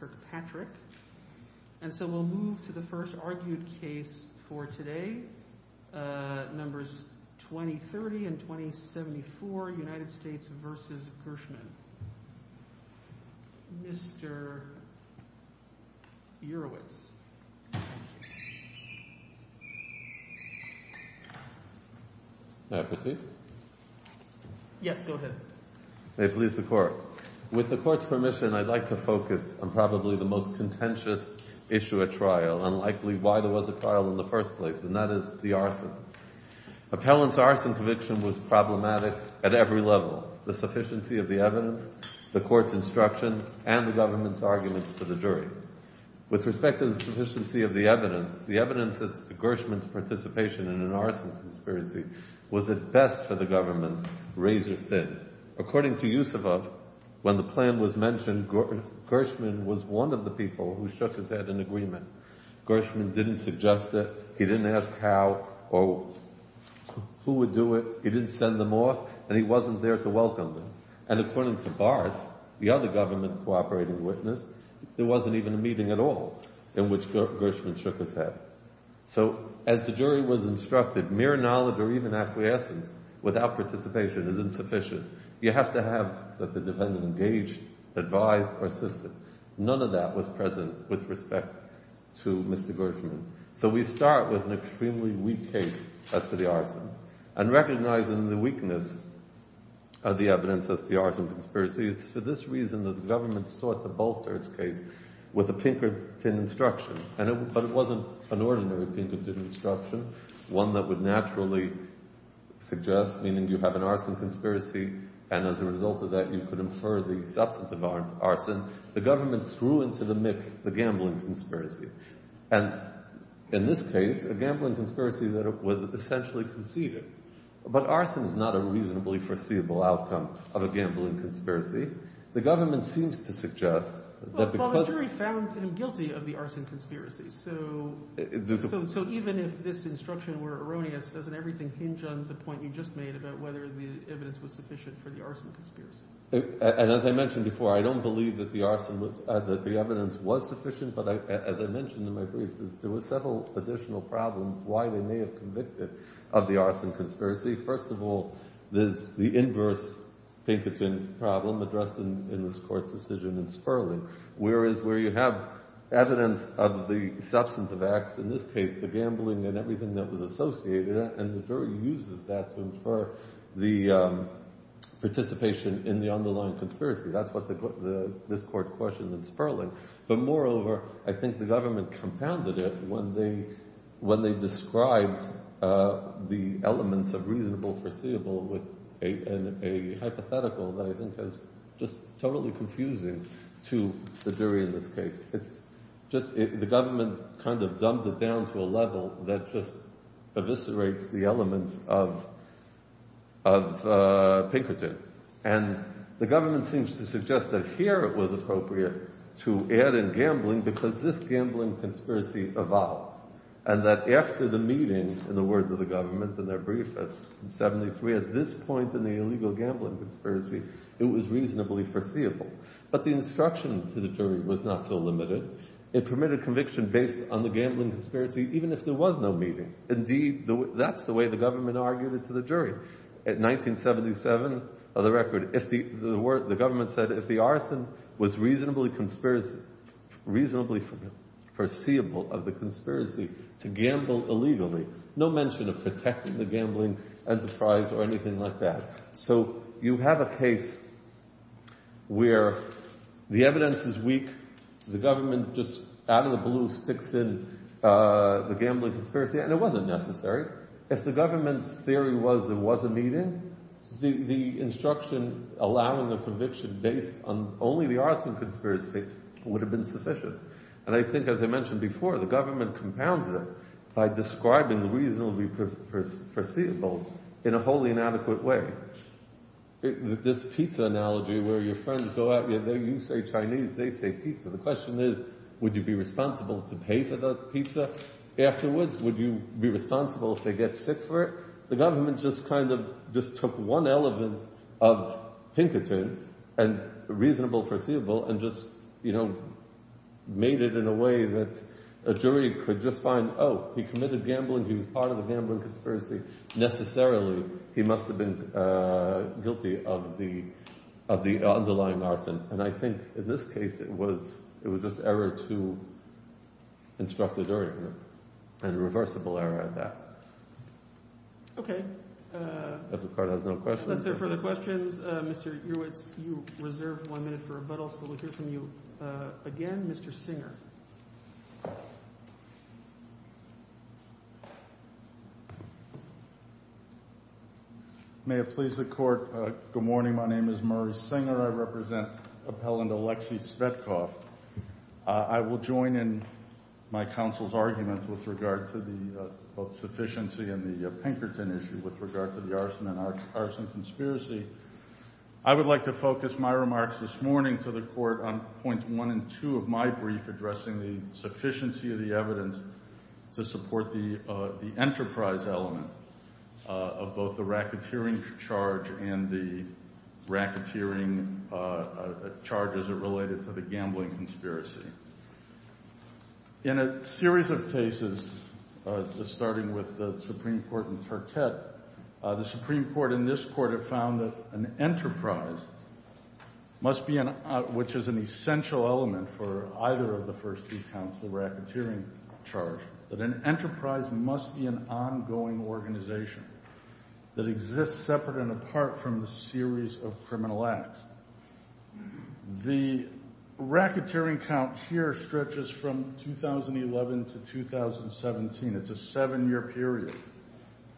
Kirkpatrick. And so we'll move to the first argued case for today. Numbers 2030 and 2074, United States versus Gershman. Mr. Urowitz. May I proceed? Yes, go ahead. May it please the court. With the court's permission, I'd like to focus on probably the most contentious issue at trial, and likely why there was a trial in the first place, and that is the arson. Appellant's arson conviction was problematic at every level. The sufficiency of the evidence, the court's instructions, and the government's arguments to the jury. With respect to the sufficiency of the evidence, the evidence that Gershman's participation in an arson conspiracy was at best for the government razor thin. According to Yusufov, when the plan was mentioned, Gershman was one of the people who shook his head Gershman didn't suggest it, he didn't ask how or who would do it, he didn't send them off, and he wasn't there to welcome them. And according to Barth, the other government cooperating witness, there wasn't even a meeting at all in which Gershman shook his head. So as the jury was instructed, mere knowledge or even acquiescence without participation is insufficient. You have to have the defendant engaged, advised, persisted. None of that was present with respect to Mr. Gershman. So we start with an extremely weak case as to the arson. And recognizing the weakness of the evidence as the arson conspiracy, it's for this reason that the government sought to bolster its case with a Pinkerton instruction. But it wasn't an ordinary Pinkerton instruction, one that would naturally suggest, meaning you have an arson conspiracy, and as a result of that, you could infer the substance of arson. The government threw into the mix the gambling conspiracy. And in this case, a gambling conspiracy that was essentially conceded. But arson is not a reasonably foreseeable outcome of a gambling conspiracy. The government seems to suggest that because of- Well, the jury found him guilty of the arson conspiracy. So even if this instruction were erroneous, doesn't everything hinge on the point you just made about whether the evidence was sufficient for the arson conspiracy? And as I mentioned before, I don't believe that the arson was- that the evidence was sufficient. But as I mentioned in my brief, there were several additional problems why they may have convicted of the arson conspiracy. First of all, there's the inverse Pinkerton problem addressed in this court's decision in Sperling, whereas where you have evidence of the substance of acts, in this case, the gambling and everything that was associated. And the jury uses that to infer the participation in the underlying conspiracy. That's what this court questioned in Sperling. But moreover, I think the government compounded it when they described the elements of reasonable, foreseeable with a hypothetical that I think is just totally confusing to the jury in this case. The government kind of dumbed it down to a level that just eviscerates the elements of Pinkerton. And the government seems to suggest that here it was appropriate to add in gambling because this gambling conspiracy evolved. And that after the meeting, in the words of the government in their brief at 73, at this point in the illegal gambling conspiracy, it was reasonably foreseeable. But the instruction to the jury was not so limited. It permitted conviction based on the gambling conspiracy, even if there was no meeting. Indeed, that's the way the government argued it to the jury. At 1977, for the record, the government said if the arson was reasonably foreseeable of the conspiracy to gamble illegally, no mention of protecting the gambling enterprise or anything like that. So you have a case where the evidence is weak, the government just out of the blue sticks in the gambling conspiracy, and it wasn't necessary. If the government's theory was there was a meeting, the instruction allowing the conviction based on only the arson conspiracy would have been sufficient. And I think, as I mentioned before, the government compounds it by describing the reasonably foreseeable in a wholly inadequate way. This pizza analogy where your friends go out, you say Chinese, they say pizza. The question is, would you be responsible to pay for the pizza afterwards? Would you be responsible if they get sick for it? The government just kind of just took one element of Pinkerton and reasonable foreseeable and just made it in a way that a jury could just find, oh, he committed gambling. He was part of the gambling conspiracy. Necessarily, he must have been guilty of the underlying arson. And I think, in this case, it was just error to instruct the jury and a reversible error at that. OK. If the court has no questions. Unless there are further questions, Mr. Ewertz, you reserve one minute for rebuttal. So we'll hear from you again, Mr. Singer. Sure. May it please the court, good morning. My name is Murray Singer. I represent appellant Alexei Svetkov. I will join in my counsel's arguments with regard to the both sufficiency and the Pinkerton issue with regard to the arson and arson conspiracy. I would like to focus my remarks this morning to the court on points one and two of my brief addressing the sufficiency of the evidence to support the enterprise element of both the racketeering charge and the racketeering charges that are related to the gambling conspiracy. In a series of cases, starting with the Supreme Court and Tartet, the Supreme Court and this court have found that an enterprise, which is an essential element for either of the first two counts, the racketeering charge, that an enterprise must be an ongoing organization that exists separate and apart from the series of criminal acts. The racketeering count here stretches from 2011 to 2017. It's a seven-year period.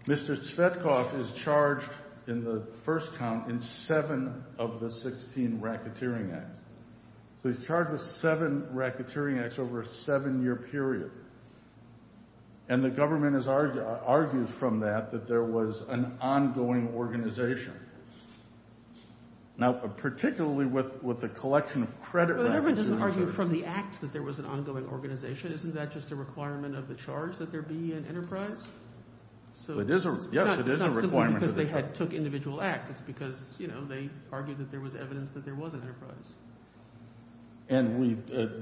Mr. Svetkov is charged in the first count in seven of the 16 racketeering acts. So he's charged with seven racketeering acts over a seven-year period. And the government argues from that that there was an ongoing organization. Now, particularly with a collection of credit racketeering charges. But the government doesn't argue from the acts that there was an ongoing organization. Isn't that just a requirement of the charge that there be an enterprise? So it is a requirement. It's not simply because they took individual acts. It's because they argued that there was evidence that there was an enterprise. And we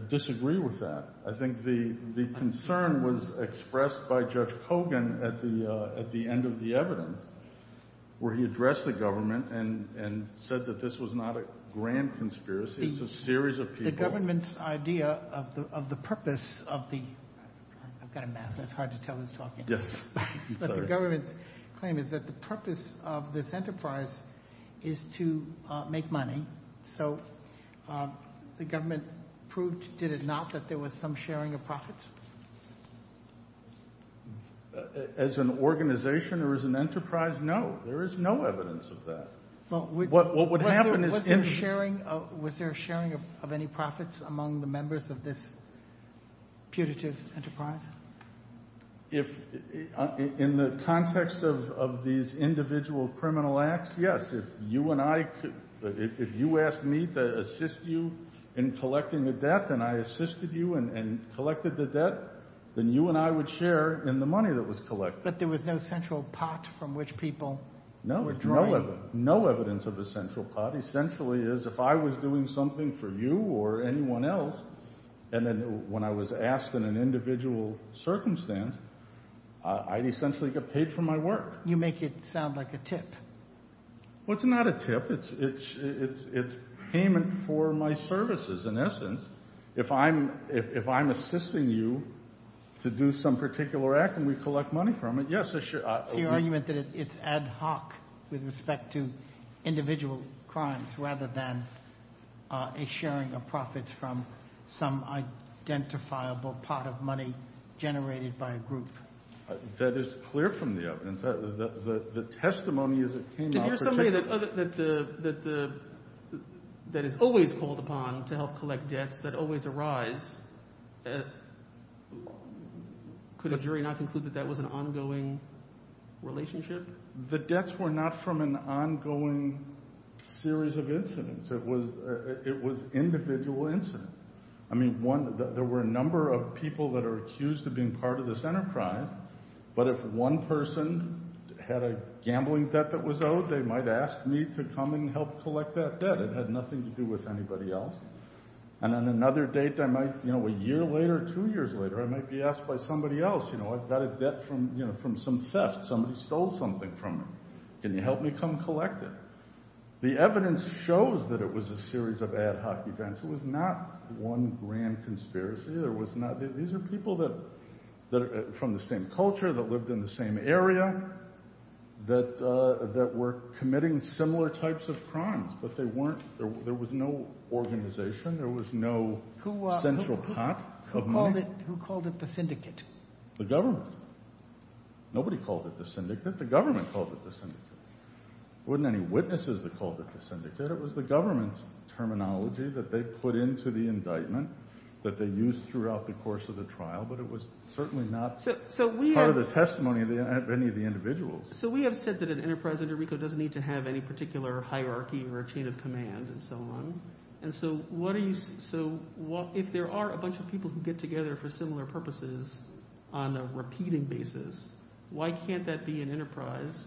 disagree with that. I think the concern was expressed by Judge Hogan at the end of the evidence, where he addressed the government and said that this was not a grand conspiracy. It's a series of people. The government's idea of the purpose of the, I've got a mask. It's hard to tell who's talking. Yes. I'm sorry. But the government's claim is that the purpose of this enterprise is to make money. So the government proved, did it not, that there was some sharing of profits? As an organization or as an enterprise? No. There is no evidence of that. What would happen is in sharing. Was there sharing of any profits among the members of this putative enterprise? If, in the context of these individual criminal acts, yes, if you and I could, if you asked me to assist you in collecting the debt, and I assisted you and collected the debt, then you and I would share in the money that was collected. But there was no central pot from which people were drawing. No, no evidence. No evidence of a central pot. Essentially, it is if I was doing something for you or anyone else, and then when I was asked in an individual circumstance, I'd essentially get paid for my work. You make it sound like a tip. Well, it's not a tip. It's payment for my services, in essence. If I'm assisting you to do some particular act and we collect money from it, yes, I should. It's the argument that it's ad hoc with respect to individual crimes, rather than a sharing of profits from some identifiable pot of money generated by a group. That is clear from the evidence. The testimony as it came out. If you're somebody that is always called upon to help collect debts that always arise, could a jury not conclude that that was an ongoing relationship? The debts were not from an ongoing series of incidents. It was individual incidents. I mean, there were a number of people that are accused of being part of this enterprise. But if one person had a gambling debt that was owed, they might ask me to come and help collect that debt. It had nothing to do with anybody else. And on another date, a year later, two years later, I might be asked by somebody else, I've got a debt from some theft. Somebody stole something from me. Can you help me come collect it? The evidence shows that it was a series of ad hoc events. It was not one grand conspiracy. These are people that are from the same culture, that lived in the same area, that were committing similar types of crimes. But there was no organization. There was no central pot of money. Who called it the syndicate? The government. Nobody called it the syndicate. The government called it the syndicate. There weren't any witnesses that called it the syndicate. It was the government's terminology that they put into the indictment that they used throughout the course of the trial. But it was certainly not part of the testimony of any of the individuals. So we have said that an enterprise under RICO doesn't need to have any particular hierarchy or a chain of command and so on. And so if there are a bunch of people who get together for similar purposes on a repeating basis, why can't that be an enterprise?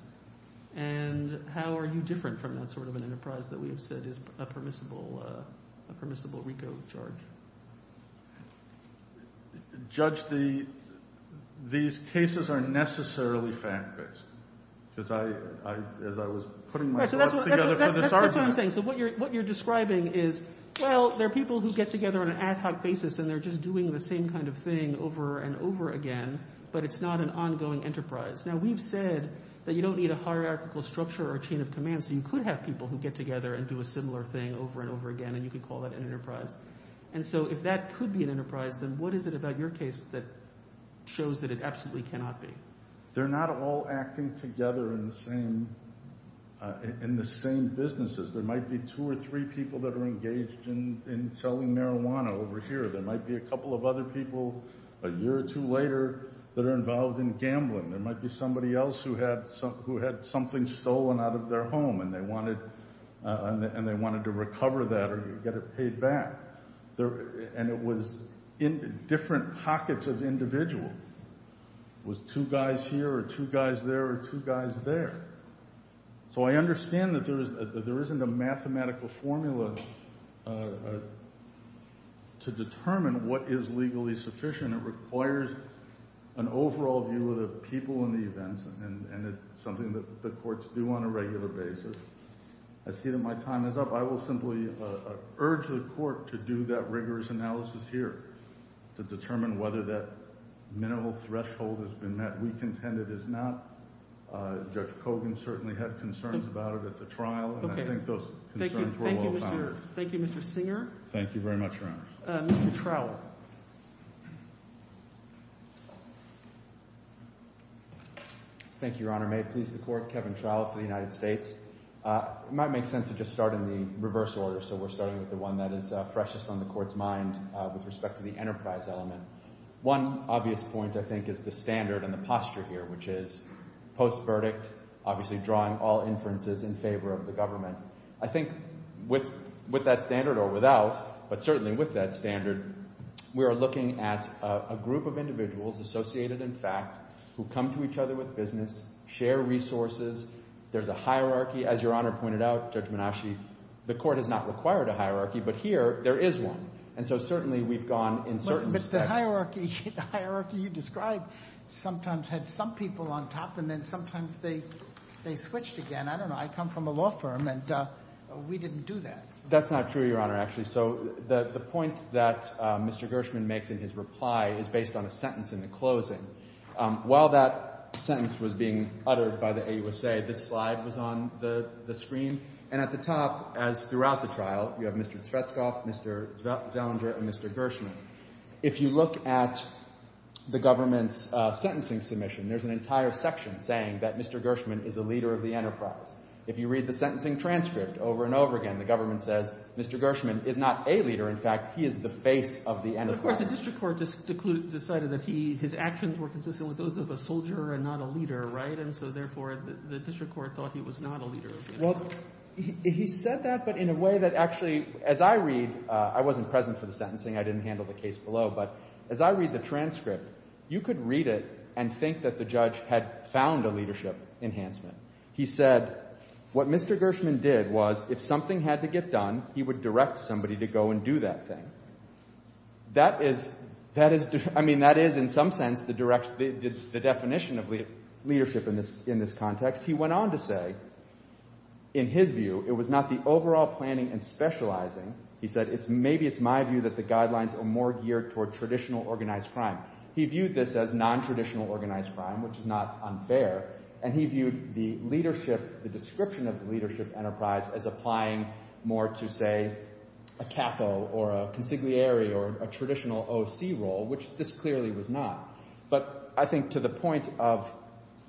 And how are you different from that sort of an enterprise that we have said is a permissible RICO charge? Judge, these cases are necessarily fact-based. As I was putting my thoughts together for this argument. That's what I'm saying. So what you're describing is, well, there are people who get together on an ad hoc basis and they're just doing the same kind of thing over and over again, but it's not an ongoing enterprise. Now we've said that you don't need a hierarchical structure or chain of command so you could have people who get together and do a similar thing over and over again and you could call that an enterprise. And so if that could be an enterprise, then what is it about your case that shows that it absolutely cannot be? They're not all acting together in the same businesses. There might be two or three people that are engaged in selling marijuana over here. There might be a couple of other people a year or two later that are involved in gambling. There might be somebody else who had something stolen out of their home and they wanted to recover that or get it paid back. And it was different pockets of individuals. It was two guys here or two guys there or two guys there. So I understand that there isn't a mathematical formula to determine what is legally sufficient. It requires an overall view of the people and the events and it's something that the courts do on a regular basis. I see that my time is up. I will simply urge the court to do that rigorous analysis here to determine whether that minimal threshold has been met. We contend it is not. Judge Kogan certainly had concerns about it at the trial and I think those concerns were well found. Thank you, Mr. Singer. Thank you very much, Your Honor. Mr. Trowell. Thank you, Your Honor. May it please the court, Kevin Trowell for the United States. It might make sense to just start in the reverse order. So we're starting with the one that is freshest on the court's mind with respect to the enterprise element. One obvious point, I think, is the standard and the posture here, which is post-verdict, obviously drawing all inferences in favor of the government. I think with that standard or without, but certainly with that standard, we are looking at a group of individuals associated in fact who come to each other with business, share resources. There's a hierarchy, as Your Honor pointed out, Judge Menasche, the court has not required a hierarchy, but here there is one. And so certainly we've gone in certain respects. But the hierarchy you described sometimes had some people on top and then sometimes they switched again. And I don't know, I come from a law firm and we didn't do that. That's not true, Your Honor, actually. So the point that Mr. Gershman makes in his reply is based on a sentence in the closing. While that sentence was being uttered by the AUSA, this slide was on the screen. And at the top, as throughout the trial, you have Mr. Tretzkoff, Mr. Zellinger, and Mr. Gershman. If you look at the government's sentencing submission, there's an entire section saying that Mr. Gershman is a leader of the enterprise. If you read the sentencing transcript over and over again, the government says, Mr. Gershman is not a leader. In fact, he is the face of the enterprise. But of course, the district court just decided that his actions were consistent with those of a soldier and not a leader, right? And so therefore, the district court thought he was not a leader of the enterprise. Well, he said that, but in a way that actually, as I read, I wasn't present for the sentencing, I didn't handle the case below, but as I read the transcript, you could read it and think that the judge had found a leadership enhancement. He said, what Mr. Gershman did was, if something had to get done, he would direct somebody to go and do that thing. That is, I mean, that is, in some sense, the definition of leadership in this context. He went on to say, in his view, it was not the overall planning and specializing. He said, maybe it's my view that the guidelines are more geared toward traditional organized crime. He viewed this as nontraditional organized crime, which is not unfair. And he viewed the leadership, the description of the leadership enterprise as applying more to, say, a capo or a consigliere or a traditional OC role, which this clearly was not. But I think to the point of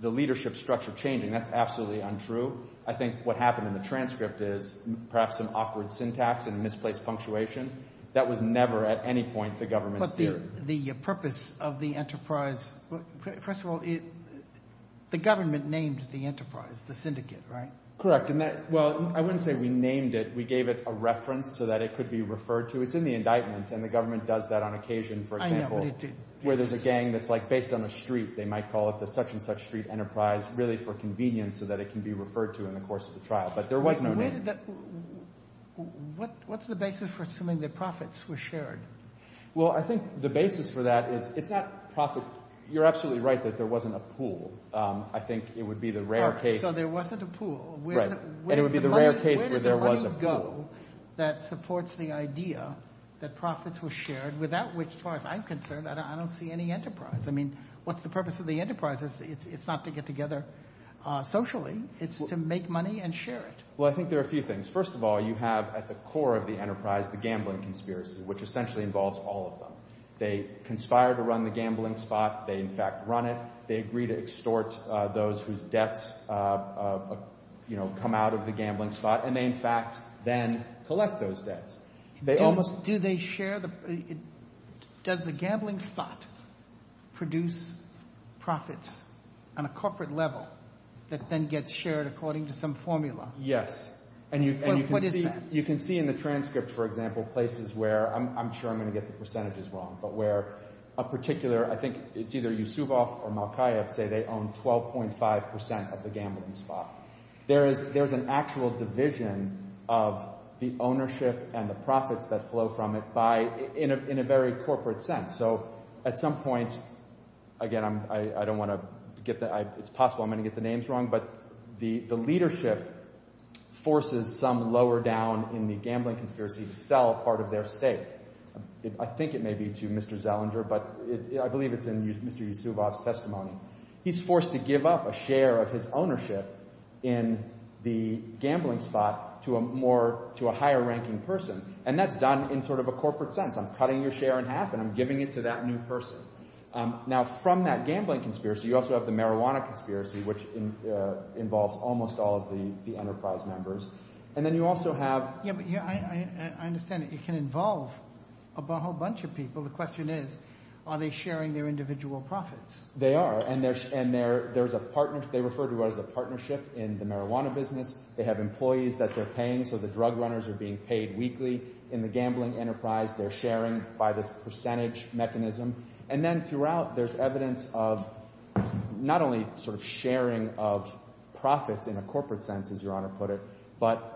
the leadership structure changing, that's absolutely untrue. I think what happened in the transcript is, perhaps an awkward syntax and misplaced punctuation. That was never, at any point, the government's theory. The purpose of the enterprise, first of all, the government named the enterprise, the syndicate, right? Correct, and that, well, I wouldn't say we named it. We gave it a reference so that it could be referred to. It's in the indictment, and the government does that on occasion, for example, where there's a gang that's based on a street. They might call it the Such-and-Such Street Enterprise, really for convenience, so that it can be referred to in the course of the trial. But there was no name. What's the basis for assuming the profits were shared? Well, I think the basis for that is, it's not profit. You're absolutely right that there wasn't a pool. I think it would be the rare case. So there wasn't a pool. Right, and it would be the rare case where there was a pool. Where did the money go that supports the idea that profits were shared, without which, as far as I'm concerned, I don't see any enterprise. I mean, what's the purpose of the enterprise? It's not to get together socially. It's to make money and share it. Well, I think there are a few things. First of all, you have, at the core of the enterprise, the gambling conspiracy, which essentially involves all of them. They conspire to run the gambling spot. They, in fact, run it. They agree to extort those whose debts come out of the gambling spot, and they, in fact, then collect those debts. Do they share the, does the gambling spot produce profits on a corporate level that then gets shared according to some formula? Yes, and you can see in the transcript, for example, places where, I'm sure I'm gonna get the percentages wrong, but where a particular, I think it's either Yusufov or Malkaev say they own 12.5% of the gambling spot. There's an actual division of the ownership and the profits that flow from it by, in a very corporate sense. So at some point, again, I don't wanna get the, it's possible I'm gonna get the names wrong, but the leadership forces some lower down in the gambling conspiracy to sell a part of their stake. I think it may be to Mr. Zellinger, but I believe it's in Mr. Yusuvov's testimony. He's forced to give up a share of his ownership in the gambling spot to a higher ranking person, and that's done in sort of a corporate sense. I'm cutting your share in half and I'm giving it to that new person. Now, from that gambling conspiracy, you also have the marijuana conspiracy, which involves almost all of the enterprise members, and then you also have- Yeah, but I understand that it can involve a whole bunch of people. The question is, are they sharing their individual profits? They are, and there's a partner, they refer to it as a partnership in the marijuana business. They have employees that they're paying, so the drug runners are being paid weekly. In the gambling enterprise, they're sharing by this percentage mechanism. And then throughout, there's evidence of not only sort of sharing of profits in a corporate sense, as Your Honor put it, but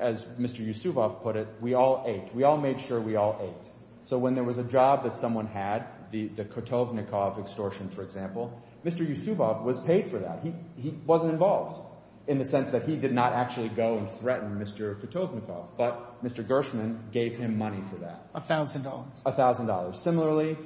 as Mr. Yusufov put it, we all ate. We all made sure we all ate. So when there was a job that someone had, the Kutovnikov extortion, for example, Mr. Yusufov was paid for that. He wasn't involved in the sense that he did not actually go and threaten Mr. Kutovnikov, but Mr. Gershman gave him money for that. A thousand dollars. A thousand dollars. Similarly,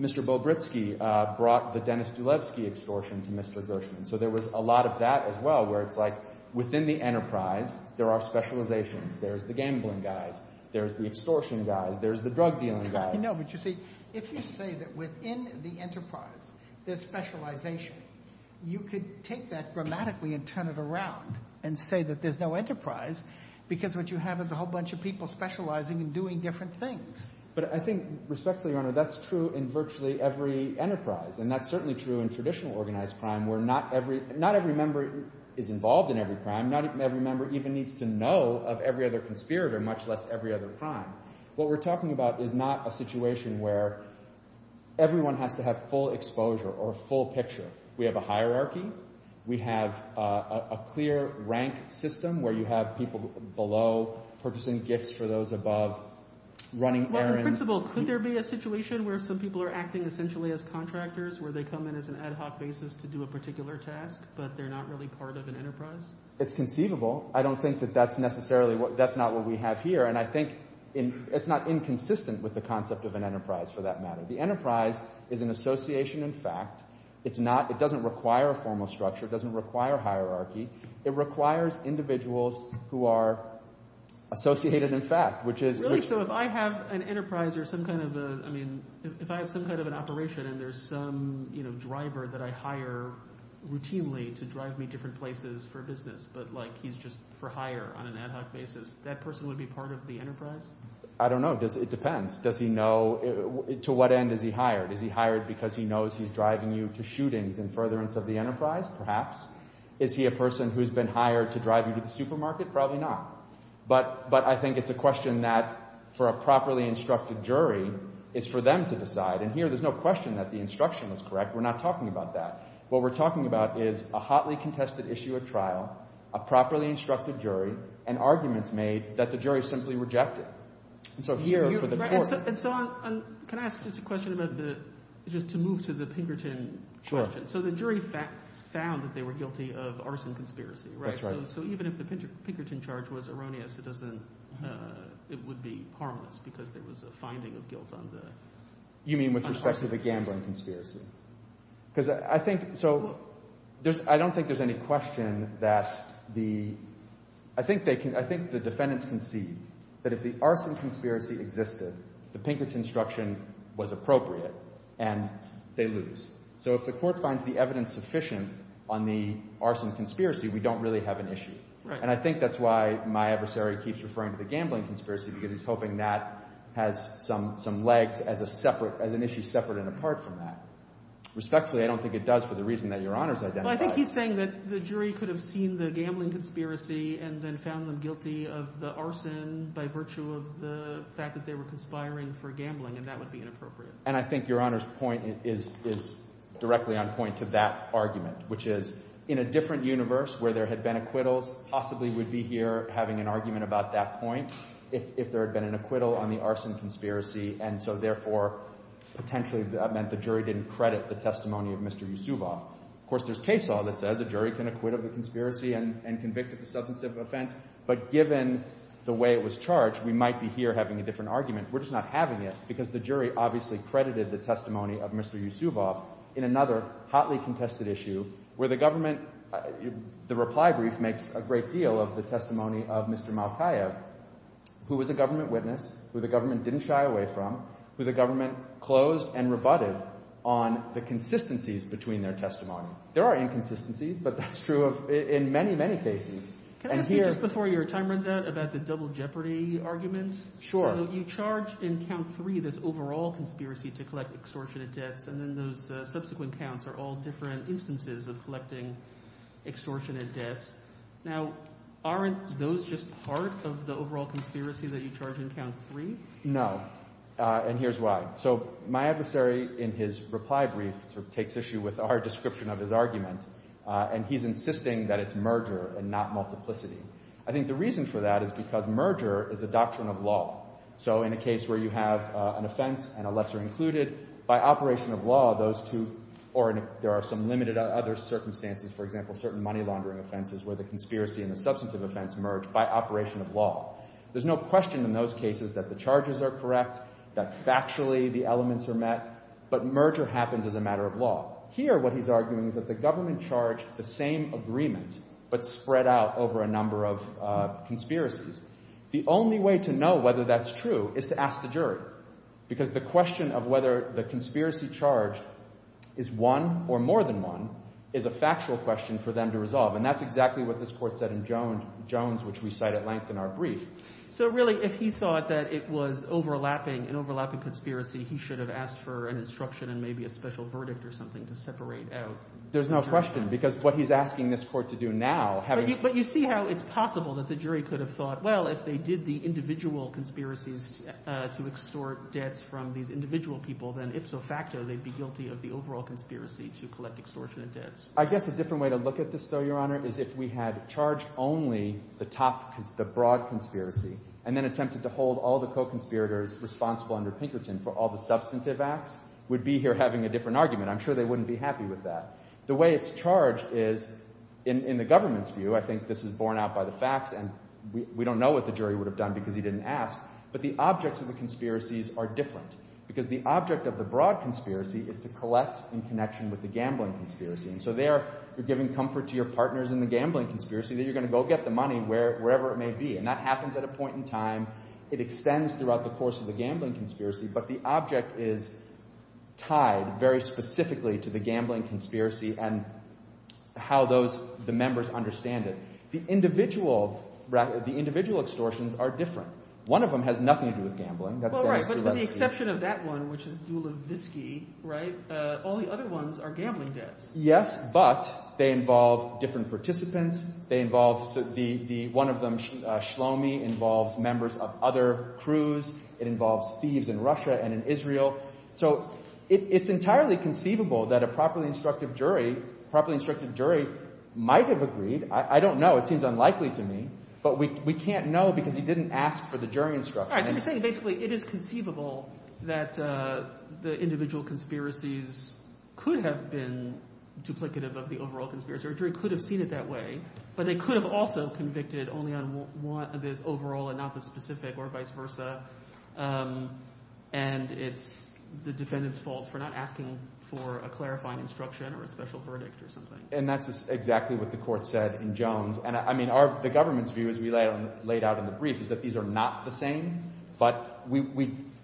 Mr. Bobritsky brought the Denis Dulevsky extortion to Mr. Gershman. So there was a lot of that as well, where it's like, within the enterprise, there are specializations. There's the gambling guys. There's the extortion guys. There's the drug dealing guys. No, but you see, if you say that within the enterprise, there's specialization, you could take that grammatically and turn it around and say that there's no enterprise, because what you have is a whole bunch of people specializing and doing different things. But I think, respectfully, Your Honor, that's true in virtually every enterprise. And that's certainly true in traditional organized crime, where not every member is involved in every crime. Not every member even needs to know of every other conspirator, much less every other crime. What we're talking about is not a situation where everyone has to have full exposure or full picture. We have a hierarchy. We have a clear rank system, where you have people below purchasing gifts for those above, running errands. Well, in principle, could there be a situation where some people are acting essentially as contractors, where they come in as an ad hoc basis to do a particular task, but they're not really part of an enterprise? It's conceivable. I don't think that that's necessarily, that's not what we have here. And I think it's not inconsistent with the concept of an enterprise, for that matter. The enterprise is an association in fact. It's not, it doesn't require a formal structure. It doesn't require hierarchy. It requires individuals who are associated in fact, which is- Really, so if I have an enterprise or some kind of a, I mean, if I have some kind of an operation and there's some driver that I hire routinely to drive me different places for business, but like he's just for hire on an ad hoc basis, that person would be part of the enterprise? I don't know. It depends. Does he know, to what end is he hired? Is he hired because he knows he's driving you to shootings in furtherance of the enterprise? Perhaps. Is he a person who's been hired to drive you to the supermarket? Probably not. But I think it's a question that, for a properly instructed jury, is for them to decide. And here, there's no question that the instruction was correct. We're not talking about that. What we're talking about is a hotly contested issue at trial, a properly instructed jury, and arguments made that the jury simply rejected. And so here, for the court- And so, can I ask just a question about the, just to move to the Pinkerton question. So the jury found that they were guilty of arson conspiracy, right? That's right. So even if the Pinkerton charge was erroneous, it doesn't, it would be harmless because there was a finding of guilt on the- You mean with respect to the gambling conspiracy? Because I think, so, I don't think there's any question that the, I think they can, I think the defendants can see that if the arson conspiracy existed, the Pinkerton instruction was appropriate, and they lose. So if the court finds the evidence sufficient on the arson conspiracy, we don't really have an issue. And I think that's why my adversary keeps referring to the gambling conspiracy because he's hoping that has some legs as a separate, as an issue separate and apart from that. Respectfully, I don't think it does for the reason that Your Honor's identified. Well, I think he's saying that the jury could have seen the gambling conspiracy and then found them guilty of the arson by virtue of the fact that they were conspiring for gambling, and that would be inappropriate. And I think Your Honor's point is directly on point to that argument, which is, in a different universe where there had been acquittals, possibly we'd be here having an argument about that point. If there had been an acquittal on the arson conspiracy, and so therefore, potentially that meant the jury didn't credit the testimony of Mr. Yusufov. Of course, there's case law that says a jury can acquit of a conspiracy and convict of a substantive offense, but given the way it was charged, we might be here having a different argument. We're just not having it because the jury obviously credited the testimony of Mr. Yusufov in another hotly contested issue where the government, the reply brief makes a great deal of the testimony of Mr. Malkaev, who was a government witness, who the government didn't shy away from, who the government closed and rebutted on the consistencies between their testimony. There are inconsistencies, but that's true in many, many cases. And here- Can I ask you just before your time runs out about the double jeopardy argument? Sure. So you charge in count three this overall conspiracy to collect extortionate debts, and then those subsequent counts are all different instances of collecting extortionate debts. Now, aren't those just part of the overall conspiracy that you charge in count three? No, and here's why. So my adversary in his reply brief takes issue with our description of his argument, and he's insisting that it's merger and not multiplicity. I think the reason for that is because merger is a doctrine of law. So in a case where you have an offense and a lesser included, by operation of law, those two, or there are some limited other circumstances, for example, certain money laundering offenses where the conspiracy and the substantive offense merge by operation of law. There's no question in those cases that the charges are correct, that factually the elements are met, but merger happens as a matter of law. Here, what he's arguing is that the government charged the same agreement, but spread out over a number of conspiracies. The only way to know whether that's true is to ask the jury, because the question of whether the conspiracy charged is one or more than one is a factual question for them to resolve, and that's exactly what this court said in Jones, which we cite at length in our brief. So really, if he thought that it was overlapping, an overlapping conspiracy, he should have asked for an instruction and maybe a special verdict or something to separate out. There's no question, because what he's asking this court to do now, having- But you see how it's possible that the jury could have thought, well, if they did the individual conspiracies to extort debts from these individual people, then if so facto, they'd be guilty of the overall conspiracy to collect extortionate debts. I guess a different way to look at this, though, Your Honor, is if we had charged only the top, the broad conspiracy, and then attempted to hold all the co-conspirators responsible under Pinkerton for all the substantive acts, we'd be here having a different argument. I'm sure they wouldn't be happy with that. The way it's charged is, in the government's view, I think this is borne out by the facts, and we don't know what the jury would have done because he didn't ask, but the objects of the conspiracies are different, because the object of the broad conspiracy is to collect in connection with the gambling conspiracy, and so there, you're giving comfort to your partners in the gambling conspiracy that you're gonna go get the money wherever it may be, and that happens at a point in time. It extends throughout the course of the gambling conspiracy, but the object is tied very specifically to the gambling conspiracy and how the members understand it. The individual extortions are different. One of them has nothing to do with gambling. That's Dennis Gillespie. But with the exception of that one, which is Dulevsky, right, all the other ones are gambling debts. Yes, but they involve different participants. They involve, one of them, Shlomi, involves members of other crews. It involves thieves in Russia and in Israel, so it's entirely conceivable that a properly instructive jury might have agreed. I don't know. It seems unlikely to me, but we can't know because he didn't ask for the jury instruction. All right, so you're saying basically it is conceivable that the individual conspiracies could have been duplicative of the overall conspiracy. A jury could have seen it that way, but they could have also convicted only on what is overall and not the specific or vice versa, and it's the defendant's fault for not asking for a clarifying instruction or a special verdict or something. And that's exactly what the court said in Jones. And I mean, the government's view, as we laid out in the brief, is that these are not the same, but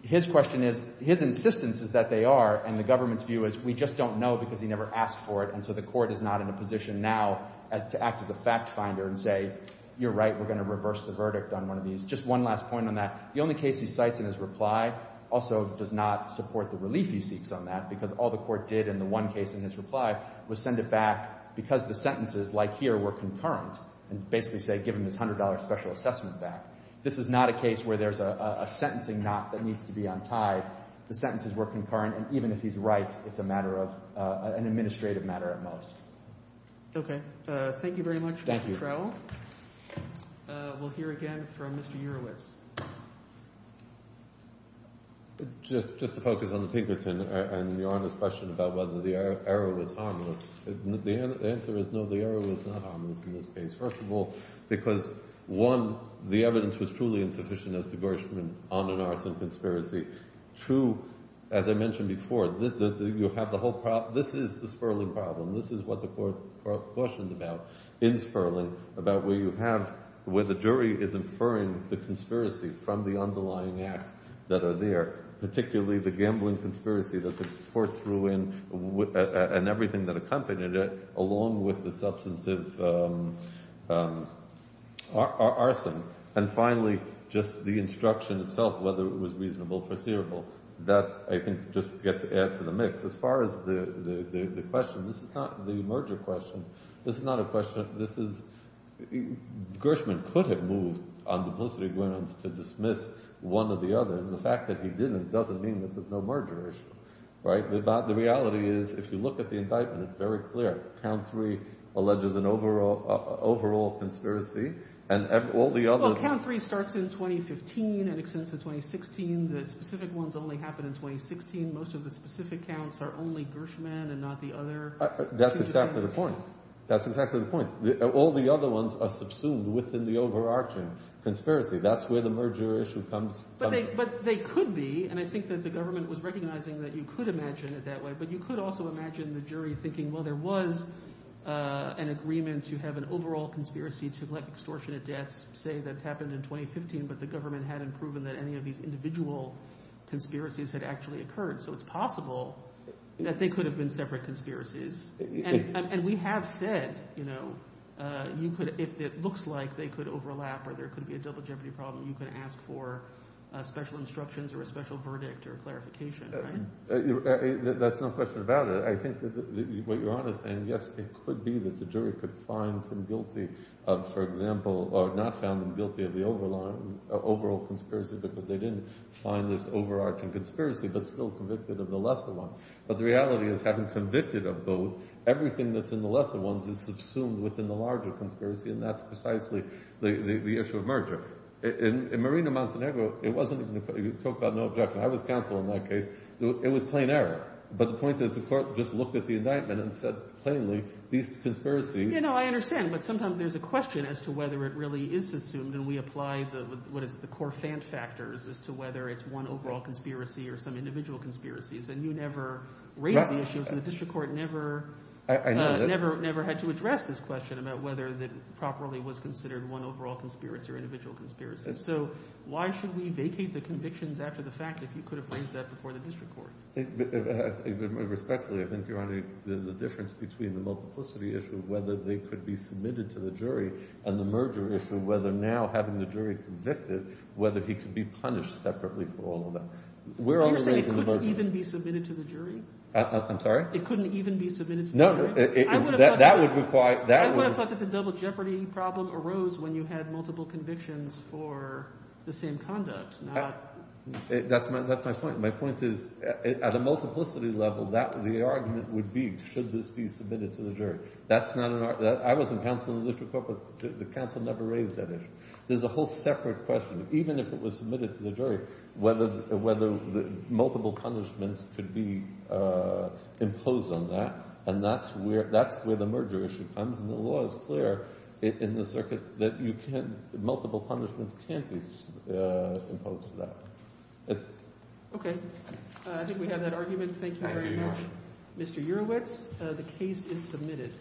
his question is, his insistence is that they are, and the government's view is, we just don't know because he never asked for it, and so the court is not in a position now to act as a fact finder and say, you're right, we're gonna reverse the verdict on one of these. Just one last point on that. The only case he cites in his reply also does not support the relief he seeks on that because all the court did in the one case in his reply was send it back because the sentences like here were concurrent and basically say, we're giving this $100 special assessment back. This is not a case where there's a sentencing knock that needs to be untied. The sentences were concurrent, and even if he's right, it's a matter of an administrative matter at most. Okay, thank you very much, Mr. Trowell. Thank you. We'll hear again from Mr. Urowitz. Just to focus on the Pinkerton and Your Honor's question about whether the error was harmless, the answer is no, the error was not harmless in this case. First of all, because one, the evidence was truly insufficient as to Gershman on an arson conspiracy. Two, as I mentioned before, you have the whole problem. This is the Sperling problem. This is what the court cautioned about in Sperling about where you have, where the jury is inferring the conspiracy from the underlying acts that are there, particularly the gambling conspiracy that the court threw in and everything that accompanied it along with the substantive arson. And finally, just the instruction itself, whether it was reasonable or foreseeable. That, I think, just gets to add to the mix. As far as the question, this is not the merger question. This is not a question, this is, Gershman could have moved on duplicity grounds to dismiss one or the other, and the fact that he didn't doesn't mean that there's no merger issue, right? The reality is, if you look at the indictment, it's very clear, count three alleges an overall conspiracy, and all the other- Well, count three starts in 2015 and extends to 2016. The specific ones only happen in 2016. Most of the specific counts are only Gershman and not the other- That's exactly the point. That's exactly the point. All the other ones are subsumed within the overarching conspiracy. That's where the merger issue comes from. But they could be, and I think that the government was recognizing that you could imagine it that way, but you could also imagine the jury thinking, well, there was an agreement to have an overall conspiracy to collect extortionate debts, say that happened in 2015, but the government hadn't proven that any of these individual conspiracies had actually occurred. So it's possible that they could have been separate conspiracies. And we have said, you could, if it looks like they could overlap or there could be a double jeopardy problem, you could ask for special instructions or a special verdict or clarification, right? That's no question about it. I think that what you're on is saying, yes, it could be that the jury could find him guilty of, for example, or not found him guilty of the overall conspiracy because they didn't find this overarching conspiracy, but still convicted of the lesser one. But the reality is having convicted of both, everything that's in the lesser ones is subsumed within the larger conspiracy. And that's precisely the issue of merger. In Marina Montenegro, it wasn't even, you talk about no objection. I was counsel in that case. It was plain error. But the point is the court just looked at the indictment and said plainly, these conspiracies. You know, I understand, but sometimes there's a question as to whether it really is assumed and we apply the, what is the core fan factors as to whether it's one overall conspiracy or some individual conspiracies. And you never raised the issues and the district court never had to address this question about whether that properly was considered one overall conspiracy or individual conspiracy. So why should we vacate the convictions after the fact if you could have raised that before the district court? Respectfully, I think, Your Honor, there's a difference between the multiplicity issue of whether they could be submitted to the jury and the merger issue, whether now having the jury convicted, whether he could be punished separately for all of that. We're under- You're saying it couldn't even be submitted to the jury? I'm sorry? It couldn't even be submitted to the jury? No, that would require- I would have thought that the double jeopardy problem arose when you had multiple convictions for the same conduct, not- That's my point. My point is, at a multiplicity level, that would be the argument would be, should this be submitted to the jury? That's not an- I was in counsel in the district court, but the counsel never raised that issue. There's a whole separate question. Even if it was submitted to the jury, whether multiple punishments could be imposed on that, and that's where the merger issue comes, and the law is clear in the circuit that multiple punishments can't be imposed on that. That's it. Okay, I think we have that argument. Thank you very much. Mr. Urowitz, the case is submitted.